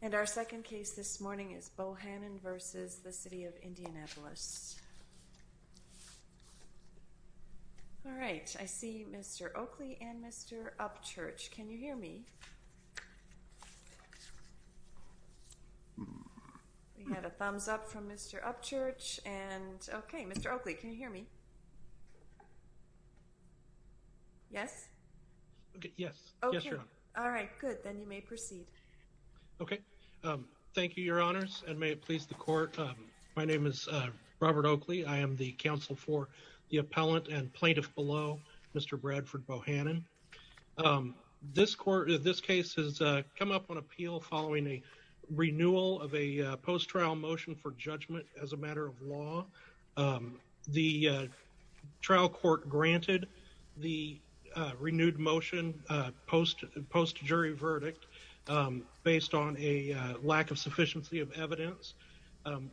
And our second case this morning is Bohanon v. City of Indianapolis. All right I see Mr. Oakley and Mr. Upchurch. Can you hear me? We have a thumbs up from Mr. Upchurch and okay Mr. Oakley can you hear me? Yes? Yes. All right good then you may proceed. Okay thank you Your Honors and may it please the court. My name is Robert Oakley. I am the counsel for the appellant and plaintiff below Mr. Bradford Bohanon. This court, this case has come up on appeal following a renewal of a post trial motion for post jury verdict based on a lack of sufficiency of evidence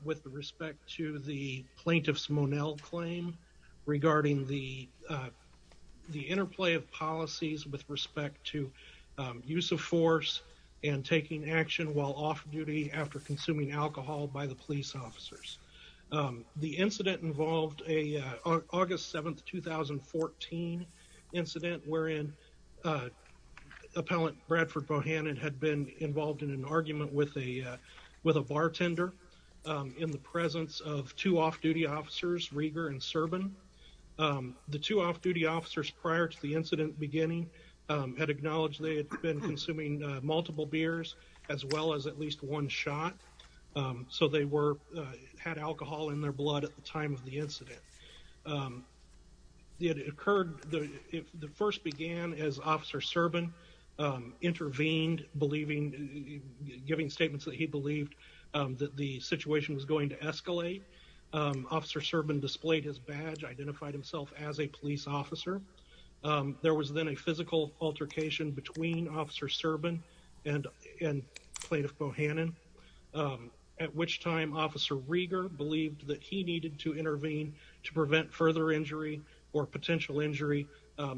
with respect to the plaintiff's Monell claim regarding the the interplay of policies with respect to use of force and taking action while off duty after consuming alcohol by the police officers. The incident involved a August 7th 2014 incident wherein appellant Bradford Bohanon had been involved in an argument with a with a bartender in the presence of two off-duty officers Rieger and Serban. The two off-duty officers prior to the incident beginning had acknowledged they had been consuming multiple beers as well as at least one shot so they were had alcohol in their blood at the time of the incident. It occurred the first began as officer Serban intervened believing giving statements that he believed that the situation was going to escalate. Officer Serban displayed his badge, identified himself as a police officer. There was then a physical altercation between officer Serban and and plaintiff Bohanon at which time officer Rieger believed that he needed to intervene to injury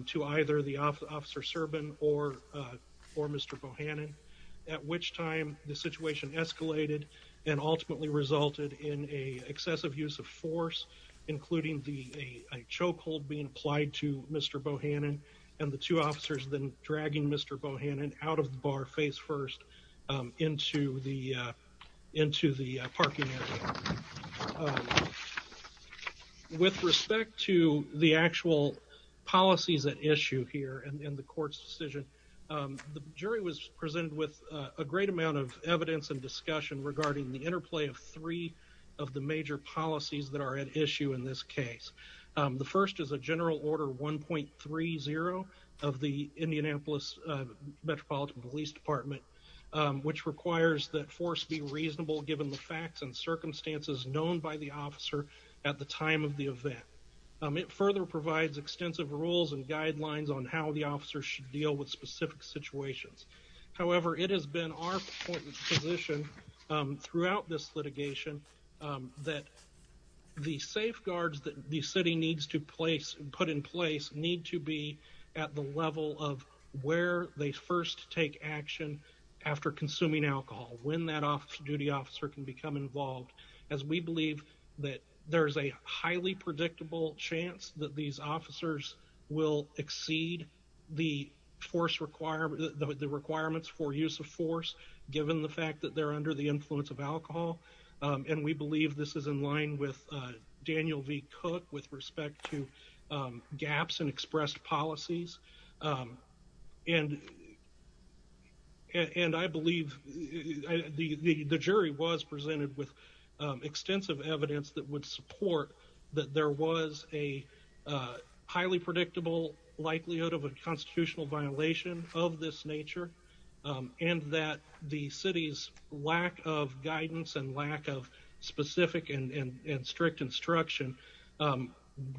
to either the officer Serban or or Mr. Bohanon at which time the situation escalated and ultimately resulted in a excessive use of force including the a chokehold being applied to Mr. Bohanon and the two officers then dragging Mr. Bohanon out of the bar face first into the into the parking area. With respect to the actual policies at issue here and in the court's decision the jury was presented with a great amount of evidence and discussion regarding the interplay of three of the major policies that are at issue in this case. The first is a general order 1.30 of the Indianapolis Metropolitan Police Department which requires that force be reasonable given the facts and it further provides extensive rules and guidelines on how the officers should deal with specific situations. However it has been our position throughout this litigation that the safeguards that the city needs to place and put in place need to be at the level of where they first take action after consuming alcohol when that officer duty officer can become involved as we believe that there's a highly predictable chance that these officers will exceed the force requirement the requirements for use of force given the fact that they're under the influence of alcohol and we believe this is in line with Daniel V. Cook with respect to gaps and expressed policies and and I believe the jury was presented with extensive evidence that would support that there was a highly predictable likelihood of a constitutional violation of this nature and that the city's lack of guidance and lack of specific and strict instruction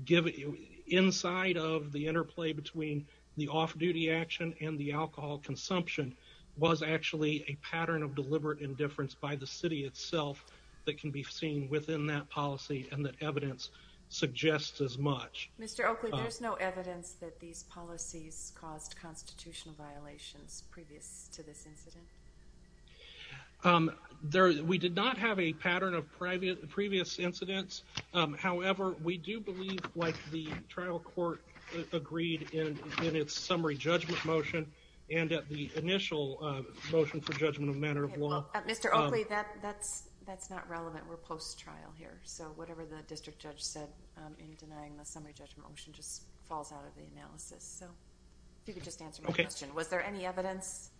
given inside of the interplay between the off-duty action and the alcohol consumption was actually a pattern of deliberate indifference by the city itself that can be seen within that policy and that evidence suggests as much. Mr. Oakley there's no evidence that these policies caused constitutional violations previous to this incident? There we did not have a pattern of private previous incidents however we do believe like the trial court agreed in in its summary judgment motion and at the initial motion for judgment of Mr. Oakley that that's that's not relevant we're post trial here so whatever the district judge said in denying the summary judgment motion just falls out of the analysis so you could just answer my question was there any evidence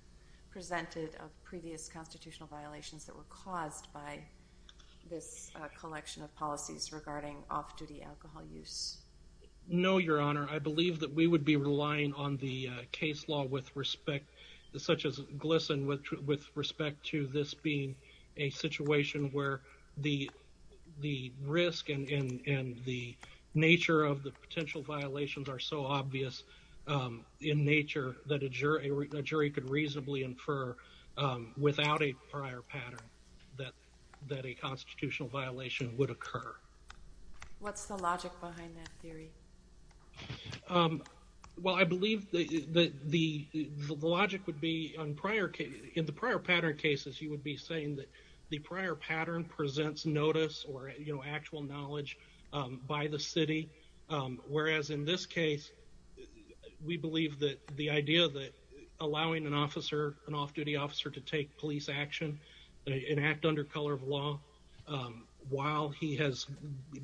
presented of previous constitutional violations that were caused by this collection of policies regarding off-duty alcohol use? No your honor I believe that we would be relying on the case law with respect such as this and with respect to this being a situation where the the risk and the nature of the potential violations are so obvious in nature that a jury could reasonably infer without a prior pattern that that a constitutional violation would occur. What's the logic behind that theory? Well I believe that the logic would be on prior case in the prior pattern cases you would be saying that the prior pattern presents notice or you know actual knowledge by the city whereas in this case we believe that the idea that allowing an officer an off-duty officer to take police action and act under color of law while he has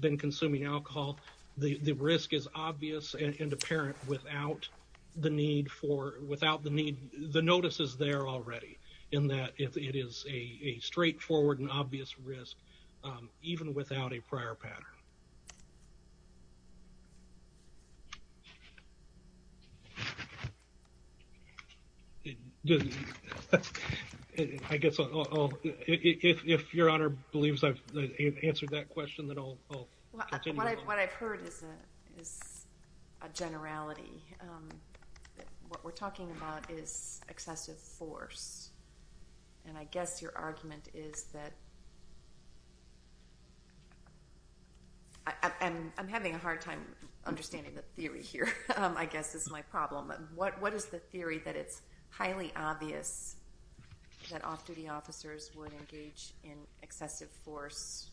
been consuming alcohol the the risk is obvious and apparent without the need for without the need the notice is there already in that if it is a straightforward and obvious risk even without a prior pattern. I guess if your honor believes I've answered that question then I'll continue. What I've heard is a generality. What we're talking about is excessive force and I guess your argument is that I'm having a hard time understanding the theory here I guess is my problem. What is the theory that it's highly obvious that off-duty officers would engage in excessive force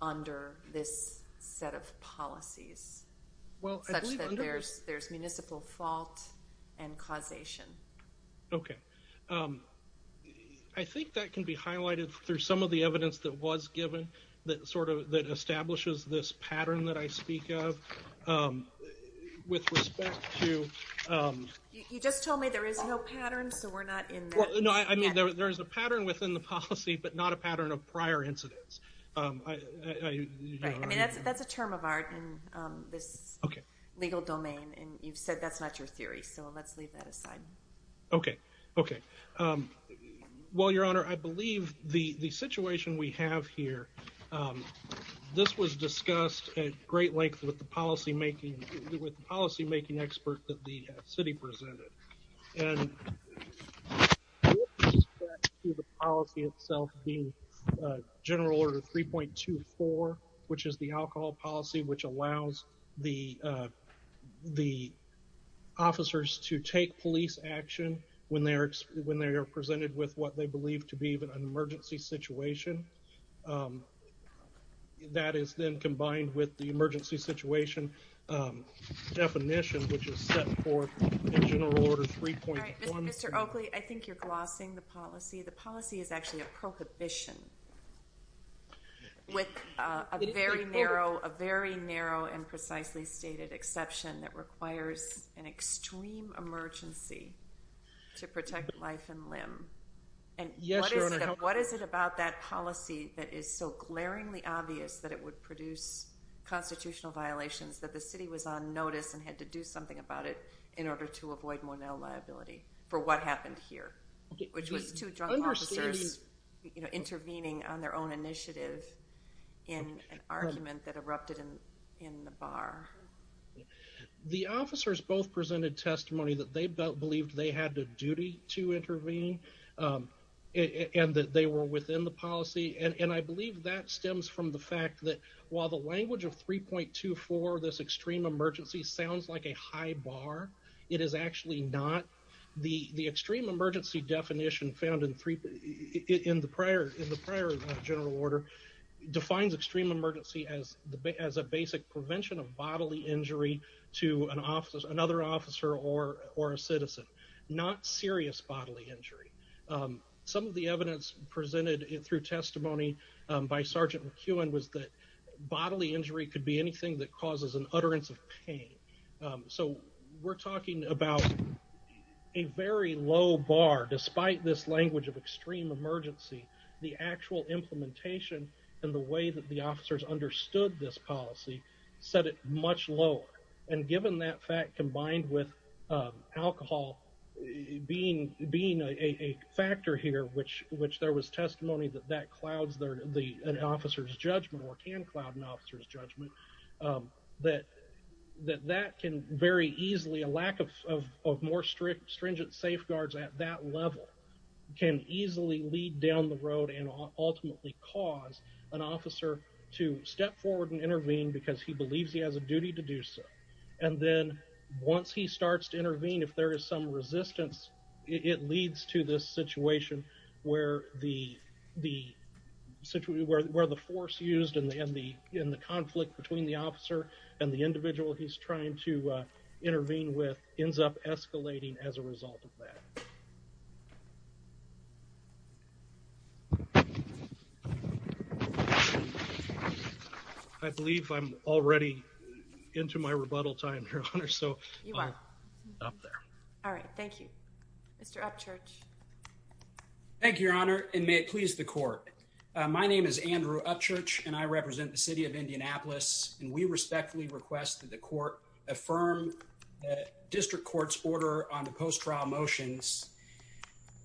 under this set of policies? Well there's municipal fault and causation. Okay I think that can be highlighted through some of the evidence that was given that that establishes this pattern that I speak of. You just told me there is no pattern so we're not in that. No I mean there's a pattern within the policy but not a pattern of prior incidents. That's a term of art in this legal domain and you've said that's not your theory so let's leave that aside. Okay okay well your this was discussed at great length with the policy making with the policy making expert that the city presented and the policy itself being general order 3.24 which is the alcohol policy which allows the the officers to take police action when they are when they are presented with what they believe to be even an that is then combined with the emergency situation definition which is set forth in general order 3.24. Mr. Oakley I think you're glossing the policy. The policy is actually a prohibition with a very narrow a very narrow and precisely stated exception that requires an extreme emergency to protect life and limb and what is it about that policy that is so glaringly obvious that it would produce constitutional violations that the city was on notice and had to do something about it in order to avoid more liability for what happened here which was two drunk officers intervening on their own initiative in an argument that erupted in the bar. The officers both presented testimony that they believed they had the duty to intervene and that they were within the policy and and I believe that stems from the fact that while the language of 3.24 this extreme emergency sounds like a high bar it is actually not. The the extreme emergency definition found in three in the prior in the prior general order defines extreme emergency as the as a basic prevention of bodily injury to an citizen not serious bodily injury. Some of the evidence presented through testimony by Sgt. McEwen was that bodily injury could be anything that causes an utterance of pain. So we're talking about a very low bar despite this language of extreme emergency the actual implementation and the way that the officers understood this policy set it much lower and given that fact combined with alcohol being being a factor here which which there was testimony that that clouds their the an officer's judgment or can cloud an officer's judgment that that that can very easily a lack of more strict stringent safeguards at that level can easily lead down the road and ultimately cause an officer to step forward and intervene because he believes he has a duty to do so and then once he starts to intervene if there is some resistance it leads to this situation where the the situation where the force used in the in the conflict between the officer and the individual he's trying to intervene with ends up escalating as a result of that. I believe I'm already into my rebuttal time your honor so I'll stop there. All right thank you. Mr. Upchurch. Thank you your honor and may it please the court. My name is Andrew Upchurch and I represent the city of Indianapolis and we respectfully request that the court affirm the district court's order on the post trial motions.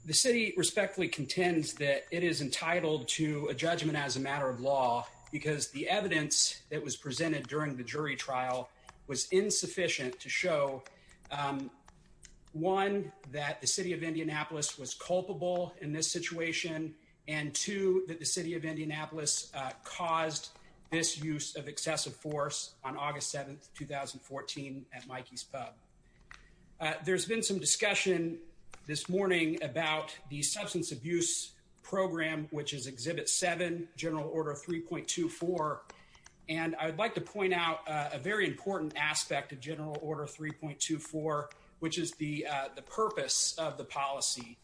The city respectfully contends that it is entitled to a judgment as a matter of law because the evidence that was presented during the jury trial was insufficient to show one that the city of Indianapolis was culpable in this situation and two that the city of Indianapolis caused this use of substance abuse. I would like to begin by acknowledging that I'm a member of the Indianapolis Police Department. I'm a member of the Indianapolis Police Department since 2014 at Mikey's Pub. There's been some discussion this morning about the substance abuse program which is Exhibit 7 General Order 3.24 and I would like to point out a very important aspect of General Order 3.24 which is the purpose of the policy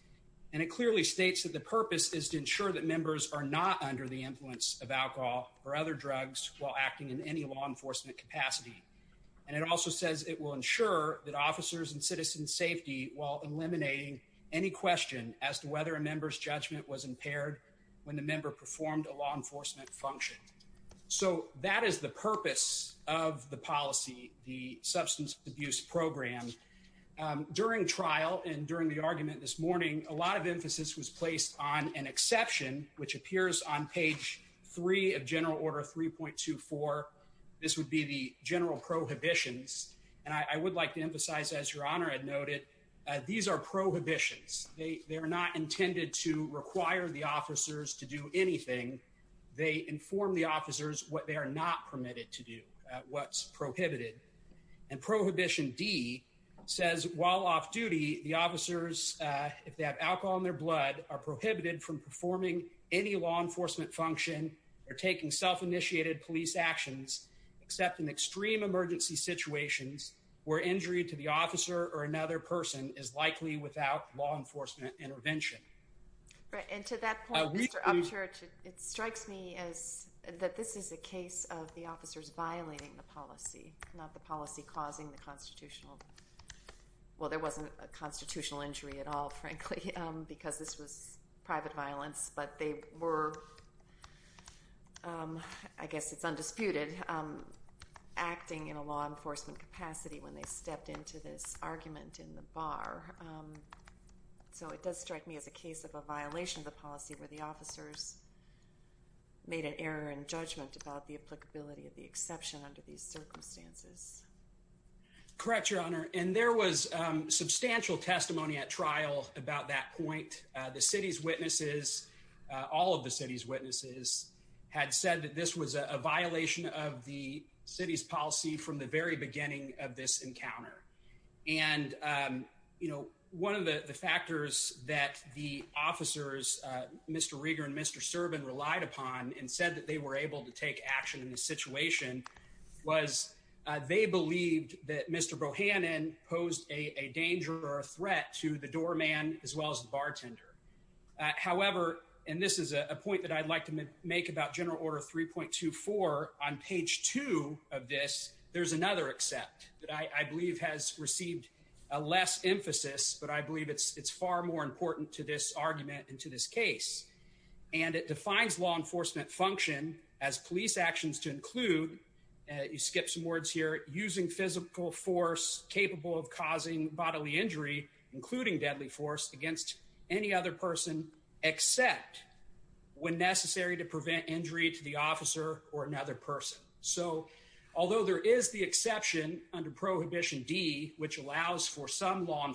and it clearly states that the purpose is to ensure that members are not under the influence of alcohol or other drugs while acting in any law enforcement capacity and it also says it will ensure that officers and citizens safety while eliminating any question as to whether a member's judgment was impaired when the member performed a law enforcement function. So that is the purpose of the policy, the substance abuse program. During trial and during the argument this morning a lot of emphasis was placed on an exception which appears on page 3 of General Order 3.24. This would be the general prohibitions and I would like to emphasize as Your Honor had noted these are prohibitions. They they're not intended to require the officers to do anything. They inform the officers what they are not permitted to do, what's prohibited and Prohibition D says while off-duty the officers if they have alcohol in their blood are prohibited from performing any law enforcement function or taking self-initiated police actions except in extreme emergency situations where injury to the officer or another person is likely without law I'm sure it strikes me as that this is a case of the officers violating the policy not the policy causing the constitutional well there wasn't a constitutional injury at all frankly because this was private violence but they were I guess it's undisputed acting in a law enforcement capacity when they stepped into this argument in the bar so it does strike me as a case of a officers made an error in judgment about the applicability of the exception under these circumstances correct your honor and there was substantial testimony at trial about that point the city's witnesses all of the city's witnesses had said that this was a violation of the city's policy from the very beginning of this encounter and you know one of the the factors that the mr. servin relied upon and said that they were able to take action in the situation was they believed that mr. Bohannon posed a danger or a threat to the doorman as well as the bartender however and this is a point that I'd like to make about general order 3.24 on page 2 of this there's another except that I believe has received a less emphasis but I believe it's it's far more important to this argument into this case and it defines law enforcement function as police actions to include you skip some words here using physical force capable of causing bodily injury including deadly force against any other person except when necessary to prevent injury to the officer or another person so although there is the exception under prohibition D which allows for some law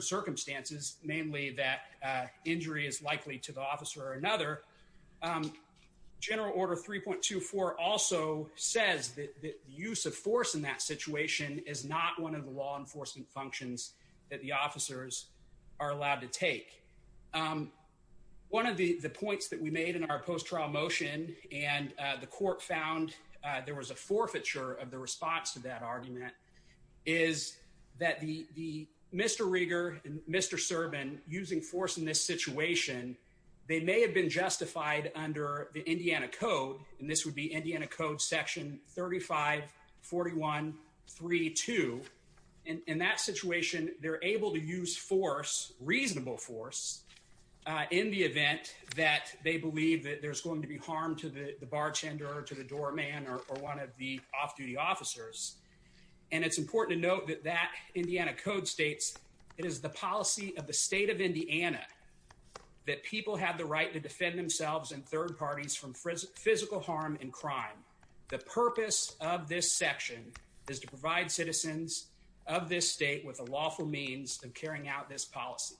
circumstances mainly that injury is likely to the officer or another general order 3.24 also says that the use of force in that situation is not one of the law enforcement functions that the officers are allowed to take one of the the points that we made in our post trial motion and the court found there was a forfeiture of the response to that argument is that the mr. Rieger and mr. Serban using force in this situation they may have been justified under the Indiana Code and this would be Indiana Code section 35 41 3 2 and in that situation they're able to use force reasonable force in the event that they officers and it's important to note that that Indiana Code states it is the policy of the state of Indiana that people have the right to defend themselves and third parties from physical harm and crime the purpose of this section is to provide citizens of this state with a lawful means of carrying out this policy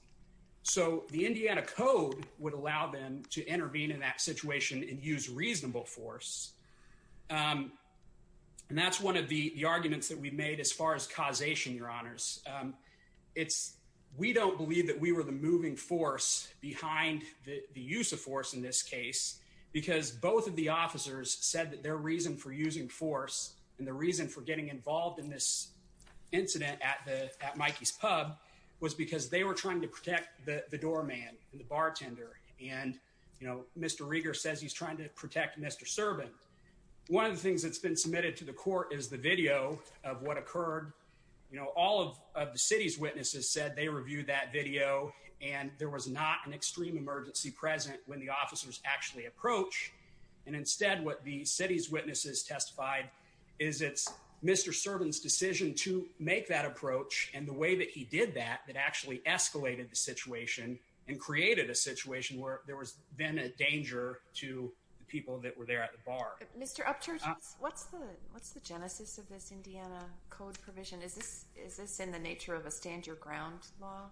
so the Indiana Code would allow them to intervene in that situation and use reasonable force and that's one of the the arguments that we've made as far as causation your honors it's we don't believe that we were the moving force behind the use of force in this case because both of the officers said that their reason for using force and the reason for getting involved in this incident at the at Mikey's pub was because they were trying to protect the the doorman and the bartender and you know mr. Rieger says he's trying to protect mr. servant one of the things that's been submitted to the court is the video of what occurred you know all of the city's witnesses said they reviewed that video and there was not an extreme emergency present when the officers actually approach and instead what the city's witnesses testified is it's mr. servants decision to make that approach and the way that he did that that actually escalated the situation and created a situation where there was then a danger to the people that were there at the bar mr. up church what's the what's the genesis of this Indiana Code provision is this is this in the nature of a stand-your-ground law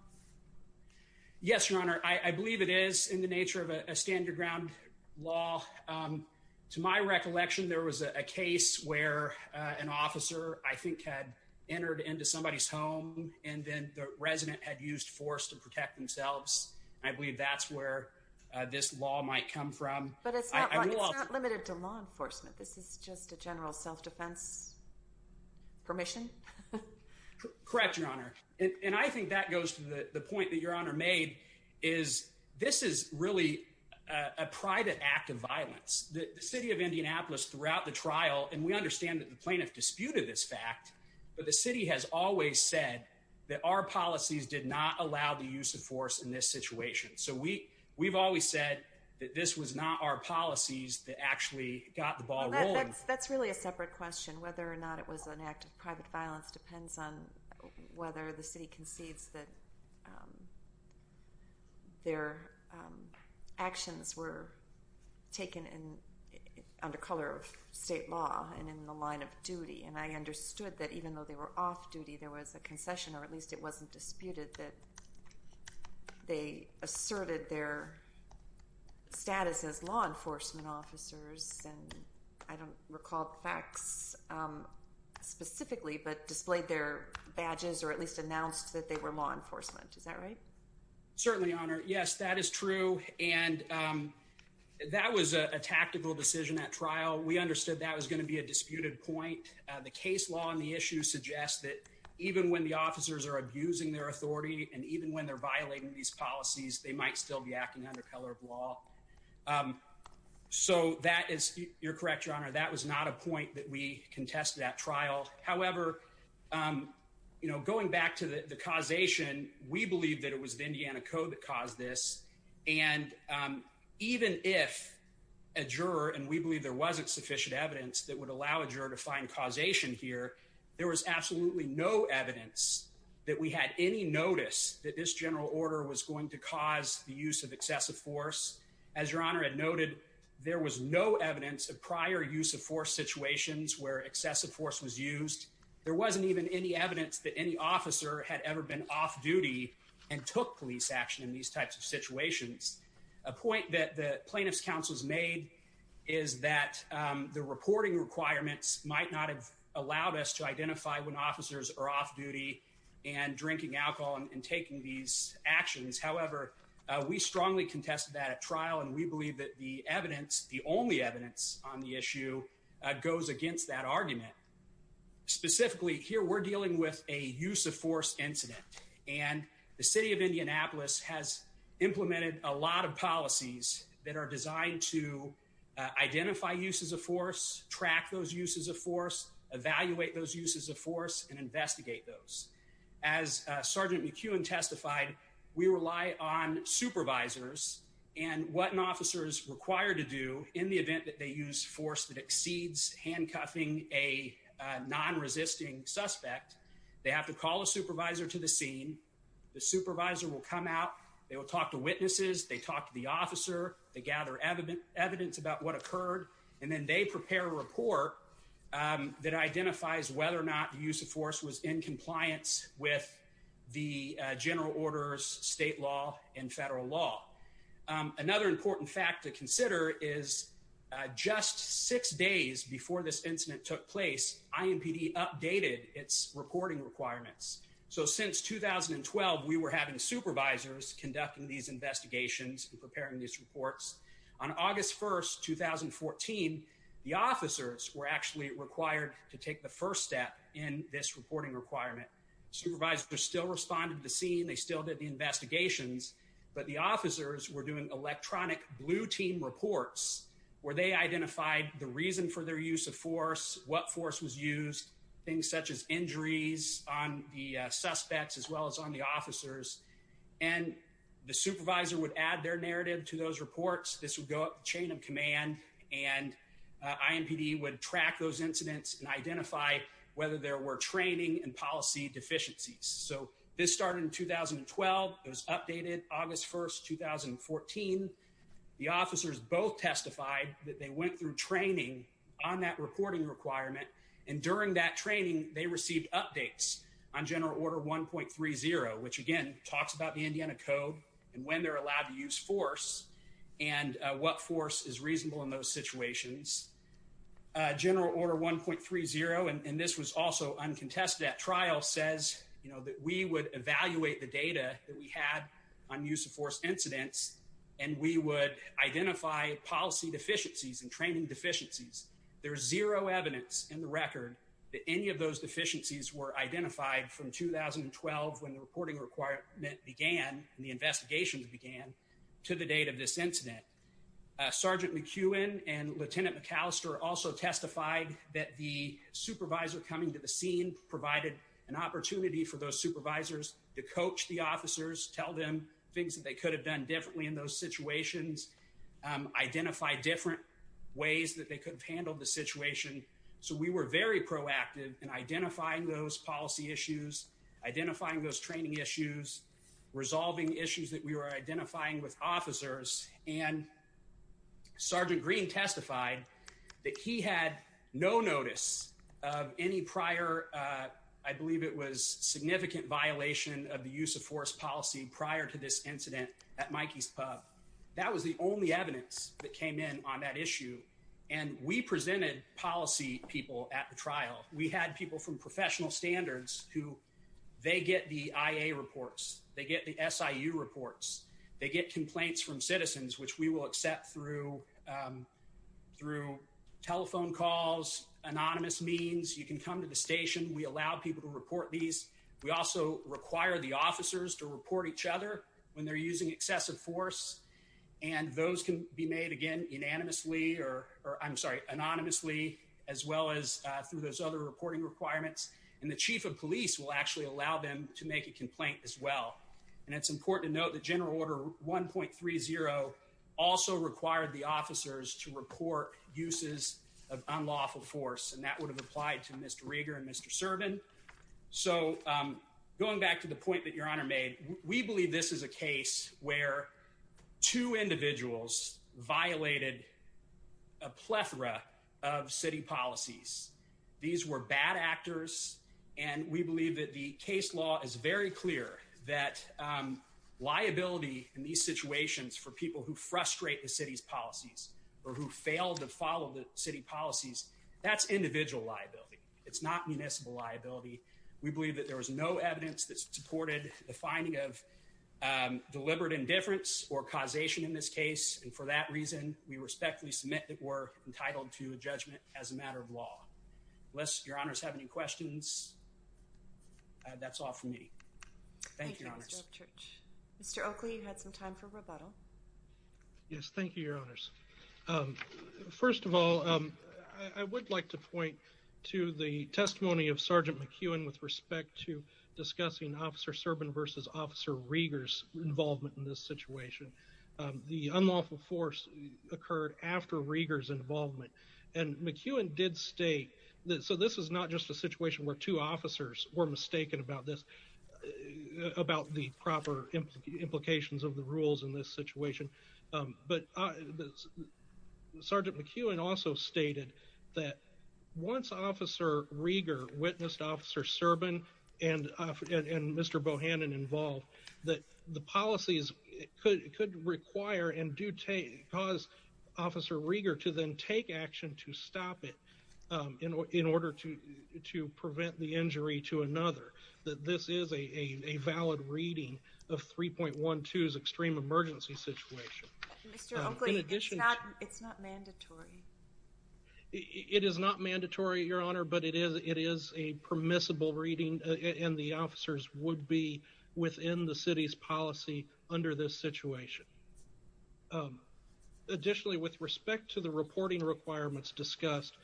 yes your honor I believe it is in the nature of a stand-your-ground law to my recollection there was a case where an resident had used force to protect themselves I believe that's where this law might come from but it's not limited to law enforcement this is just a general self-defense permission correct your honor and I think that goes to the point that your honor made is this is really a private act of violence the city of Indianapolis throughout the trial and we understand that the policies did not allow the use of force in this situation so we we've always said that this was not our policies that actually got the ball that's really a separate question whether or not it was an act of private violence depends on whether the city concedes that their actions were taken in under color of state law and in the line of duty and I understood that even though they were off-duty there was a concession or at least it wasn't disputed that they asserted their status as law enforcement officers and I don't recall facts specifically but displayed their badges or at least announced that they were law enforcement is that right certainly honor yes that is true and that was a tactical decision at trial we understood that was going to be a disputed point the case law on the issue suggests that even when the officers are abusing their authority and even when they're violating these policies they might still be acting under color of law so that is your correct your honor that was not a point that we contested at trial however you know going back to the causation we believe that it was the Indiana Code that caused this and even if a juror and we believe there wasn't sufficient evidence that would allow a defined causation here there was absolutely no evidence that we had any notice that this general order was going to cause the use of excessive force as your honor had noted there was no evidence of prior use of force situations where excessive force was used there wasn't even any evidence that any officer had ever been off-duty and took police action in these types of situations a point that the plaintiffs counsels made is that the reporting requirements might not have allowed us to identify when officers are off-duty and drinking alcohol and taking these actions however we strongly contested that at trial and we believe that the evidence the only evidence on the issue goes against that argument specifically here we're dealing with a use of force incident and the city of Indianapolis has implemented a lot of policies that identify uses of force track those uses of force evaluate those uses of force and investigate those as sergeant McEwen testified we rely on supervisors and what an officer is required to do in the event that they use force that exceeds handcuffing a non-resisting suspect they have to call a supervisor to the scene the supervisor will come out they will talk to witnesses they talk to the about what occurred and then they prepare a report that identifies whether or not the use of force was in compliance with the general orders state law and federal law another important fact to consider is just six days before this incident took place IMPD updated its reporting requirements so since 2012 we were having supervisors conducting these investigations and preparing these reports on August 1st 2014 the officers were actually required to take the first step in this reporting requirement supervisor still responded the scene they still did the investigations but the officers were doing electronic blue team reports where they identified the reason for their use of force what force was used things such as injuries on the suspects as well as on the officers and the supervisor would add their narrative to those reports this would go up chain of command and IMPD would track those incidents and identify whether there were training and policy deficiencies so this started in 2012 it was updated August 1st 2014 the officers both testified that they went through training on that reporting requirement and during that training they received updates on general order 1.30 which again talks about the road and when they're allowed to use force and what force is reasonable in those situations general order 1.30 and this was also uncontested at trial says you know that we would evaluate the data that we had on use of force incidents and we would identify policy deficiencies and training deficiencies there's zero evidence in the record that any of those deficiencies were investigations began to the date of this incident sergeant McEwen and lieutenant McAllister also testified that the supervisor coming to the scene provided an opportunity for those supervisors to coach the officers tell them things that they could have done differently in those situations identify different ways that they could have handled the situation so we were very proactive in identifying those policy issues identifying those training issues resolving issues that we were identifying with officers and sergeant Green testified that he had no notice of any prior I believe it was significant violation of the use of force policy prior to this incident at Mikey's pub that was the only evidence that came in on that issue and we presented policy people at the trial we had people from professional standards who they get the reports they get the SIU reports they get complaints from citizens which we will accept through through telephone calls anonymous means you can come to the station we allow people to report these we also require the officers to report each other when they're using excessive force and those can be made again unanimously or I'm sorry anonymously as well as through those other reporting requirements and the chief of police will actually allow them to make a complaint as well and it's important to note the general order 1.30 also required the officers to report uses of unlawful force and that would have applied to mr. Rieger and mr. Servin so going back to the point that your honor made we believe this is a case where two individuals violated a plethora of city policies these were bad actors and we believe that the case law is very clear that liability in these situations for people who frustrate the city's policies or who failed to follow the city policies that's individual liability it's not municipal liability we believe that there was no evidence that supported the finding of deliberate indifference or causation in this case and for that reason we respectfully submit that were entitled to a judgment as a matter of law unless your honors have any questions that's all for me mr. Oakley you had some time for rebuttal yes thank you your honors first of all I would like to point to the testimony of sergeant McEwen with respect to discussing officer Servin versus officer Rieger's involvement in this situation the unlawful force occurred after Rieger's involvement and McEwen did state that so this is not just a situation where two officers were mistaken about this about the proper implications of the rules in this situation but sergeant McEwen also stated that once officer Rieger witnessed officer Servin and and mr. Bohannon involved that the policies could require and do take cause officer Rieger to then take action to stop it in order to to prevent the injury to another that this is a valid reading of 3.1 twos extreme emergency situation it is not mandatory your honor but it is it is a permissible reading and the officers would be within the city's policy under this situation additionally with respect to the reporting requirements discussed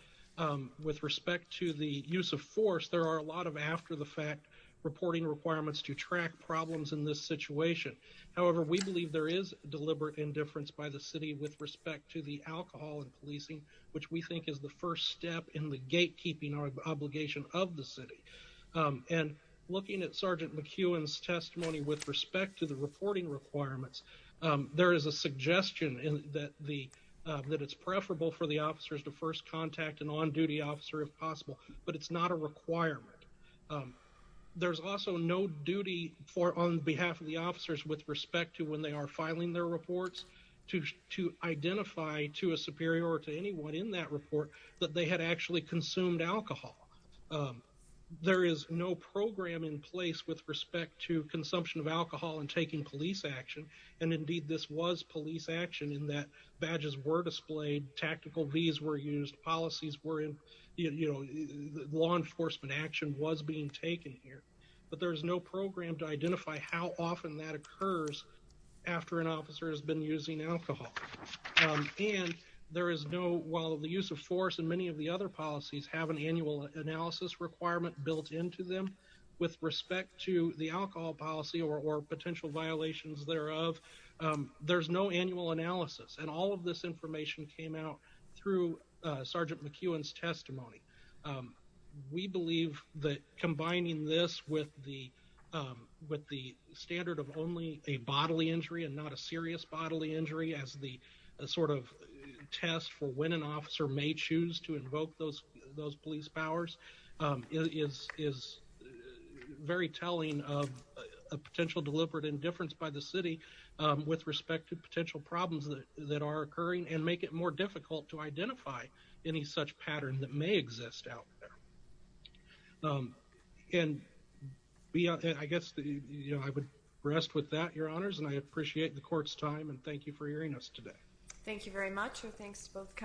with respect to the use of force there are a lot of after-the-fact reporting requirements to track problems in this situation however we believe there is deliberate indifference by the city with respect to the alcohol and policing which we think is the first step in the gatekeeping our obligation of the city and looking at sergeant McEwen's testimony with respect to the reporting requirements there is a suggestion in that the that it's preferable for the officers to first contact an on-duty officer if possible but it's not a requirement there's also no duty for on behalf of the officers with respect to when they are filing their reports to to identify to a superior or to anyone in that report that they had actually consumed alcohol there is no program in with respect to consumption of alcohol and taking police action and indeed this was police action in that badges were displayed tactical these were used policies were in you know law enforcement action was being taken here but there's no program to identify how often that occurs after an officer has been using alcohol and there is no while the use of force and many of the other policies have an annual analysis requirement built into them with respect to the alcohol policy or potential violations thereof there's no annual analysis and all of this information came out through sergeant McEwen's testimony we believe that combining this with the with the standard of only a bodily injury and not a serious bodily injury as the sort of test for when an those police powers is very telling of a potential deliberate indifference by the city with respect to potential problems that are occurring and make it more difficult to identify any such pattern that may exist out there and beyond that I guess the you know I would rest with that your honors and I appreciate the court's time and thank you for hearing us today thank you very much thanks to